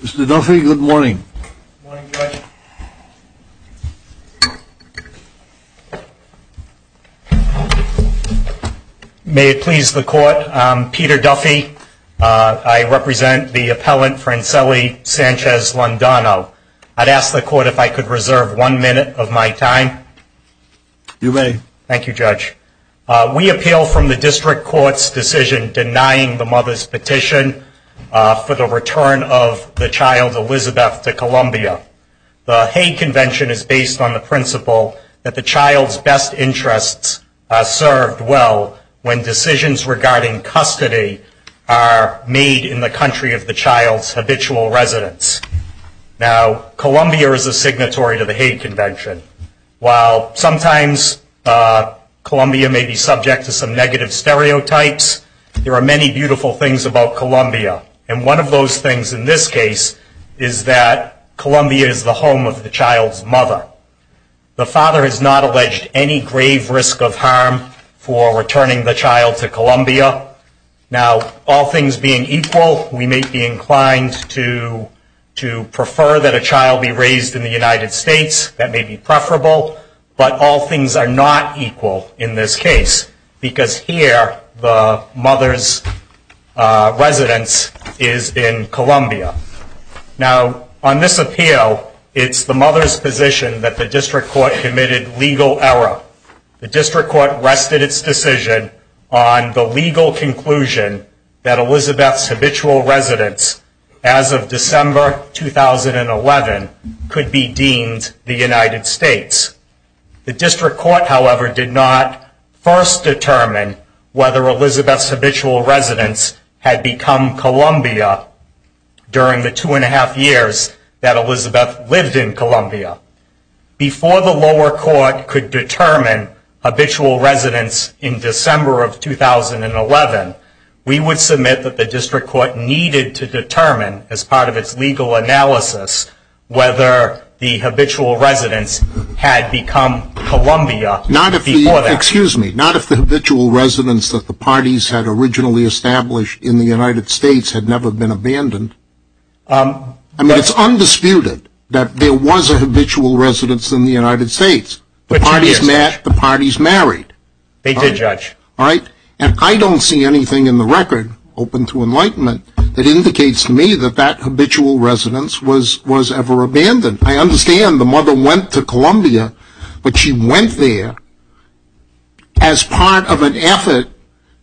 Mr. Duffy, good morning. May it please the court, I'm Peter Duffy. I represent the appellant Franceli Sanchez Londono. I'd ask the court if I could reserve one minute of my time. You may. Thank you, Judge. We appeal from the district court's decision denying the mother's petition for the return of the child, Elizabeth, to Columbia. The Hague Convention is based on the principle that the child's best interests are served well when decisions regarding custody are made in the country of the child's habitual residence. Now, Columbia is a signatory to the Hague Convention. While sometimes Columbia may be subject to some negative stereotypes, there are many beautiful things about Columbia. And one of those things in this case is that Columbia is the home of the child's mother. The father has not alleged any grave risk of harm for returning the child to Columbia. Now, all things being equal, we may be inclined to prefer that a child be raised in the United States. That may be preferable. But all things are not equal in this case, because here the mother's residence is in Columbia. Now, on this appeal, it's the mother's position that the district court committed legal error. The district court rested its decision on the legal conclusion that Elizabeth's habitual residence, as of December 2011, could be deemed the United States. The district court, however, did not first determine whether Elizabeth's habitual residence had become Columbia during the two and a half years that Elizabeth lived in Columbia. Before the lower court could determine habitual residence in December of 2011, we would submit that the district court needed to determine, as part of its legal analysis, whether the habitual residence had become Columbia before that. Excuse me. Not if the habitual residence that the parties had originally established in the United States had never been abandoned. I mean, it's undisputed that there was a habitual residence in the United States. The parties met. The parties married. They did, Judge. All right? And I don't see anything in the record, open to enlightenment, that indicates to me that that habitual residence was ever abandoned. I understand the mother went to Columbia, but she went there as part of an effort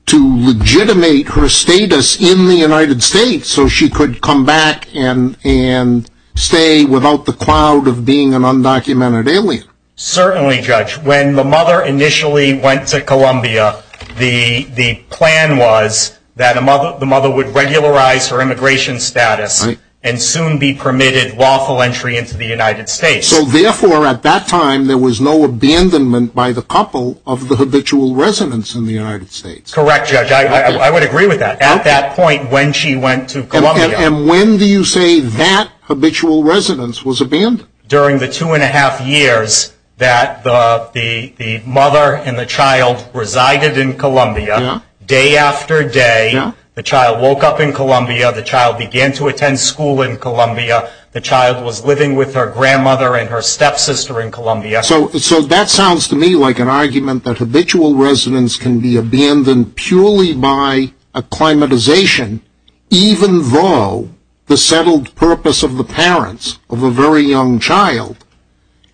to legitimate her status in the United States so she could come back and stay without the cloud of being an undocumented alien. Certainly, Judge. When the mother initially went to Columbia, the plan was that the mother would regularize her immigration status and soon be permitted lawful entry into the United States. So, therefore, at that time, there was no abandonment by the couple of the habitual residence in the United States. Correct, Judge. I would agree with that. At that point, when she went to Columbia. And when do you say that habitual residence was abandoned? During the two and a half years that the mother and the child resided in Columbia. Day after day, the child woke up in Columbia. The child began to attend school in Columbia. The child was living with her grandmother and her stepsister in Columbia. So, that sounds to me like an argument that habitual residence can be abandoned purely by acclimatization, even though the settled purpose of the parents of a very young child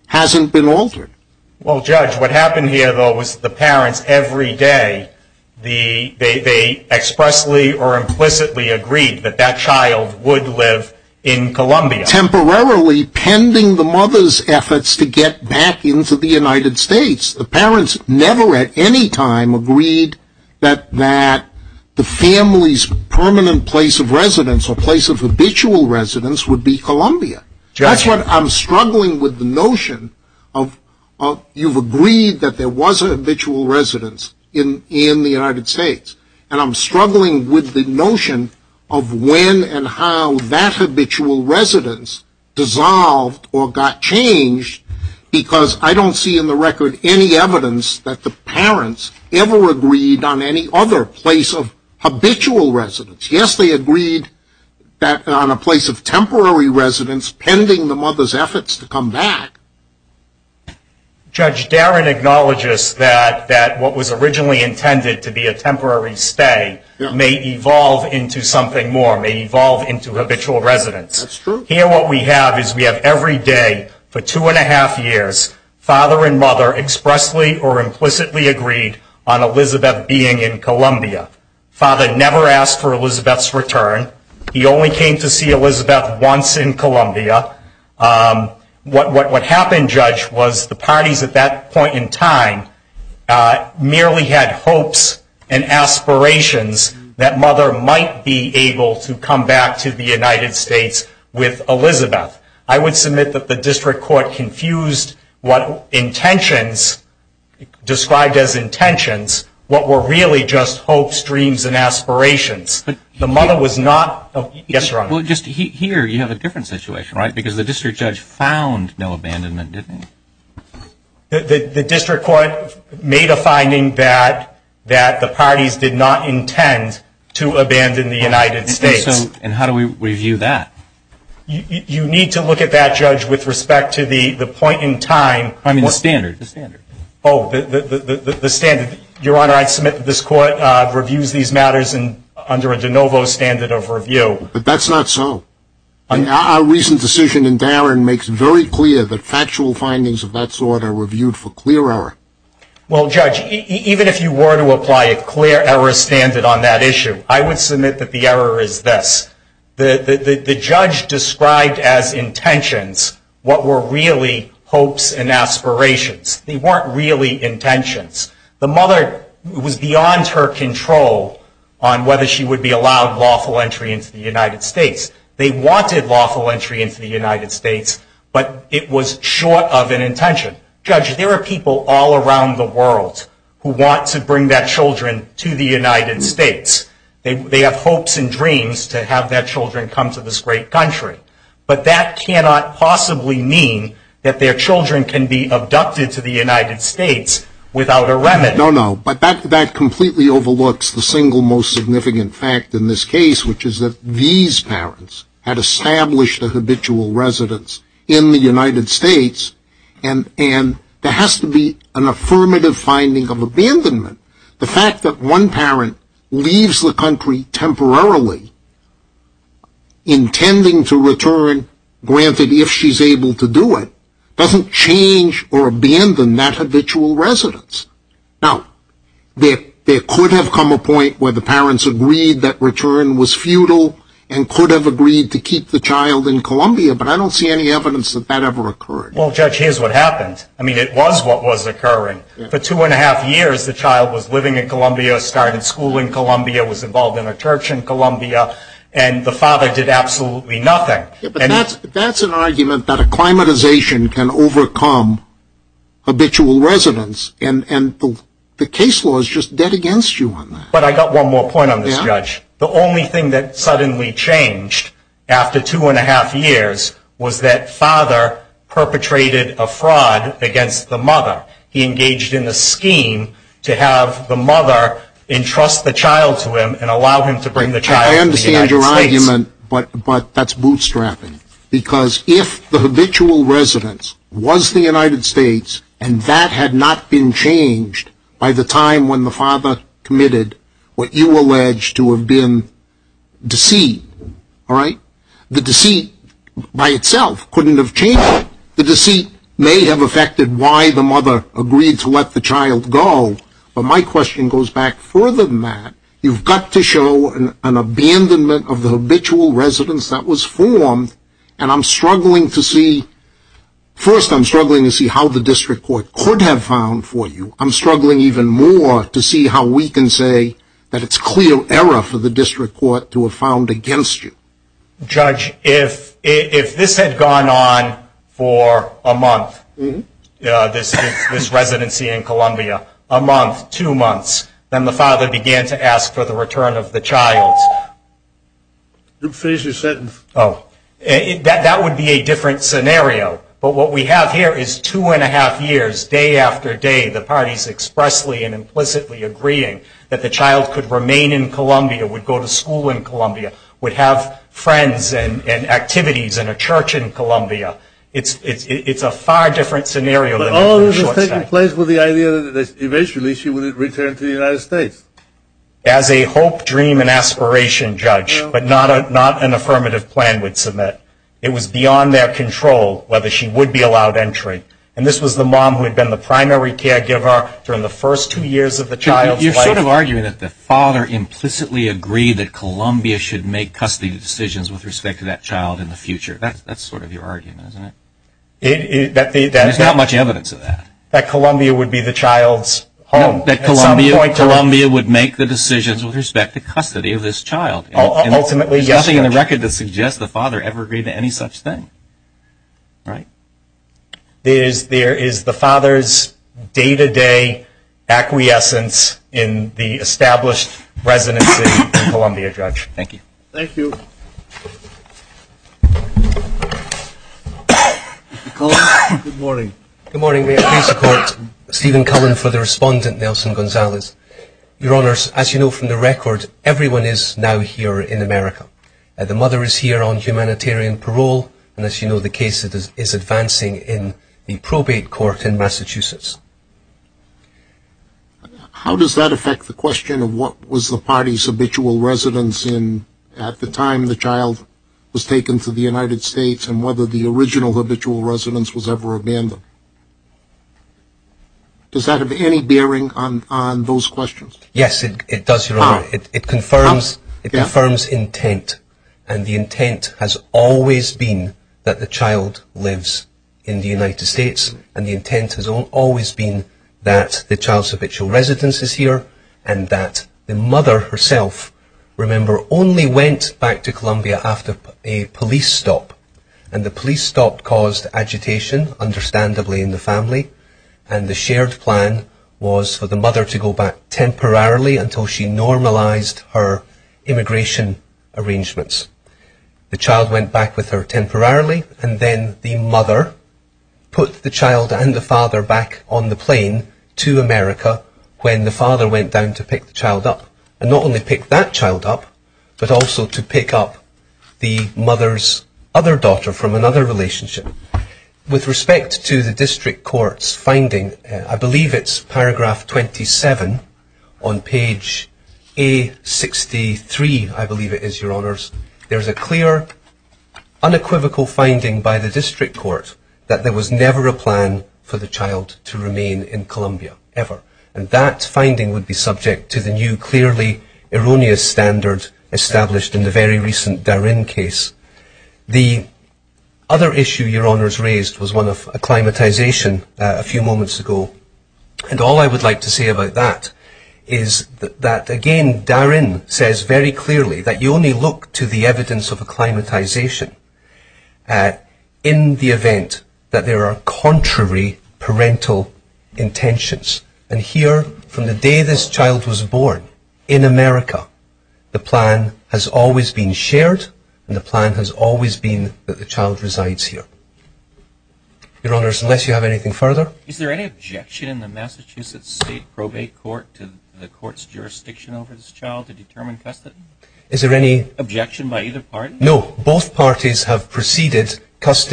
hasn't been altered. Well, Judge, what happened here, though, was the parents, every day, they expressly or implicitly agreed that that child would live in Columbia. Temporarily pending the mother's efforts to get back into the United States. The parents never at any time agreed that the family's permanent place of residence or place of habitual residence would be Columbia. Judge. That's what I'm struggling with the notion of you've agreed that there was a habitual residence in the United States. And I'm struggling with the notion of when and how that habitual residence dissolved or got changed, because I don't see in the record any evidence that the parents ever agreed on any other place of habitual residence. Yes, they agreed on a place of temporary residence pending the mother's efforts to come back. Judge, Darren acknowledges that what was originally intended to be a temporary stay may evolve into something more, may evolve into habitual residence. That's true. Here what we have is we have every day for two and a half years, father and mother expressly or implicitly agreed on Elizabeth being in Columbia. Father never asked for Elizabeth's return. He only came to see Elizabeth once in Columbia. What happened, Judge, was the parties at that point in time merely had hopes and aspirations that mother might be able to come back to the United States with Elizabeth. I would submit that the district court confused what intentions, described as intentions, what were really just hopes, dreams, and aspirations. But the mother was not. Yes, Your Honor. Well, just here you have a different situation, right? Because the district judge found no abandonment, didn't he? The district court made a finding that the parties did not intend to abandon the United States. And how do we review that? You need to look at that, Judge, with respect to the point in time. I mean the standard, the standard. Oh, the standard. Your Honor, I submit that this court reviews these matters under a de novo standard of review. But that's not so. Our recent decision in Darren makes it very clear that factual findings of that sort are reviewed for clear error. Well, Judge, even if you were to apply a clear error standard on that issue, I would submit that the error is this. The judge described as intentions what were really hopes and aspirations. They weren't really intentions. The mother was beyond her control on whether she would be allowed lawful entry into the United States. They wanted lawful entry into the United States, but it was short of an intention. Judge, there are people all around the world who want to bring their children to the United States. They have hopes and dreams to have their children come to this great country. But that cannot possibly mean that their children can be abducted to the United States without a remedy. No, no. But that completely overlooks the single most significant fact in this case, which is that these parents had established a habitual residence in the United States, and there has to be an affirmative finding of abandonment. The fact that one parent leaves the country temporarily intending to return, granted if she's able to do it, doesn't change or abandon that habitual residence. Now, there could have come a point where the parents agreed that return was futile and could have agreed to keep the child in Columbia, but I don't see any evidence that that ever occurred. Well, Judge, here's what happened. I mean, it was what was occurring. For two and a half years, the child was living in Columbia, started school in Columbia, was involved in a church in Columbia, and the father did absolutely nothing. But that's an argument that acclimatization can overcome habitual residence, and the case law is just dead against you on that. But I got one more point on this, Judge. The only thing that suddenly changed after two and a half years was that father perpetrated a fraud against the mother. He engaged in a scheme to have the mother entrust the child to him and allow him to bring the child to the United States. I understand your argument, but that's bootstrapping, because if the habitual residence was the United States and that had not been changed by the time when the father committed what you allege to have been deceit, all right, the deceit by itself couldn't have changed it. The deceit may have affected why the mother agreed to let the child go, but my question goes back further than that. You've got to show an abandonment of the habitual residence that was formed, and I'm struggling to see, first, I'm struggling to see how the district court could have found for you. I'm struggling even more to see how we can say that it's clear error for the district court to have found against you. Judge, if this had gone on for a month, this residency in Columbia, a month, two months, then the father began to ask for the return of the child. You've finished your sentence. Oh. That would be a different scenario, but what we have here is two and a half years, day after day, the parties expressly and implicitly agreeing that the child could remain in Columbia, would go to school in Columbia, would have friends and activities in a church in Columbia. It's a far different scenario. But all of this is taking place with the idea that eventually she would return to the United States. As a hope, dream, and aspiration, Judge, but not an affirmative plan would submit. It was beyond their control whether she would be allowed entry, and this was the mom who had been the primary caregiver during the first two years of the child's life. You're sort of arguing that the father implicitly agreed that Columbia should make custody decisions with respect to that child in the future. That's sort of your argument, isn't it? There's not much evidence of that. That Columbia would be the child's home. No, that Columbia would make the decisions with respect to custody of this child. Ultimately, yes, Judge. There's nothing in the record that suggests the father ever agreed to any such thing, right? There is the father's day-to-day acquiescence in the established residency in Columbia, Judge. Thank you. Thank you. Good morning. Good morning. May it please the Court, Stephen Cullen for the respondent, Nelson Gonzalez. Your Honors, as you know from the record, everyone is now here in America. The mother is here on humanitarian parole, and as you know the case is advancing in the probate court in Massachusetts. How does that affect the question of what was the party's habitual residence at the time the child was taken to the United States and whether the original habitual residence was ever abandoned? Does that have any bearing on those questions? Yes, it does, Your Honor. How? It confirms intent, and the intent has always been that the child lives in the United States, and the intent has always been that the child's habitual residence is here, and that the mother herself, remember, only went back to Columbia after a police stop, and the police stop caused agitation, understandably, in the family, and the shared plan was for the mother to go back temporarily until she normalized her immigration arrangements. The child went back with her temporarily, and then the mother put the child and the father back on the plane to America when the father went down to pick the child up, and not only pick that child up, but also to pick up the mother's other daughter from another relationship. With respect to the district court's finding, I believe it's paragraph 27 on page A63, I believe it is, Your Honors. There's a clear, unequivocal finding by the district court that there was never a plan for the child to remain in Columbia, ever, and that finding would be subject to the new, clearly erroneous standard established in the very recent Darin case. The other issue Your Honors raised was one of acclimatization a few moments ago, and all I would like to say about that is that, again, Darin says very clearly that you only look to the evidence of acclimatization in the event that there are contrary parental intentions, and here, from the day this child was born in America, the plan has always been shared, and the plan has always been that the child resides here. Your Honors, unless you have anything further? Is there any objection in the Massachusetts State Probate Court to the court's jurisdiction over this child to determine custody? Is there any objection by either party? No. Both parties have proceeded,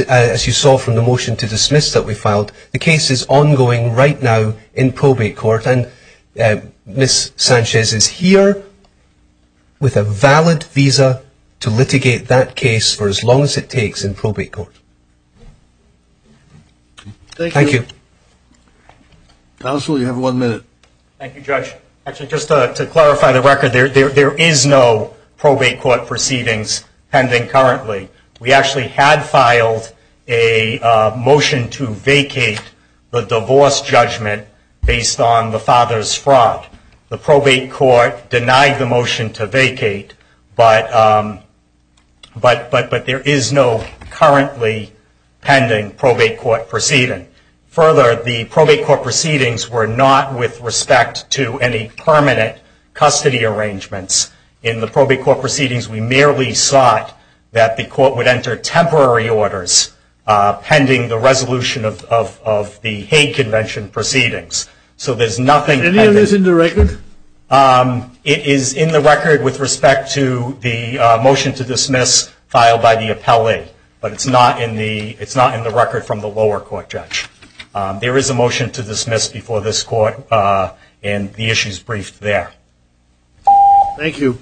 as you saw from the motion to dismiss that we filed, the case is ongoing right now in probate court, and Ms. Sanchez is here with a valid visa to litigate that case for as long as it takes in probate court. Thank you. Counsel, you have one minute. Thank you, Judge. Actually, just to clarify the record, there is no probate court proceedings pending currently. We actually had filed a motion to vacate the divorce judgment based on the father's fraud. The probate court denied the motion to vacate, but there is no currently pending probate court proceeding. Further, the probate court proceedings were not with respect to any permanent custody arrangements. In the probate court proceedings, we merely sought that the court would enter temporary orders pending the resolution of the Hague Convention proceedings. So there's nothing pending. Is any of this in the record? It is in the record with respect to the motion to dismiss filed by the appellee, but it's not in the record from the lower court, Judge. There is a motion to dismiss before this court, and the issue is briefed there. Thank you.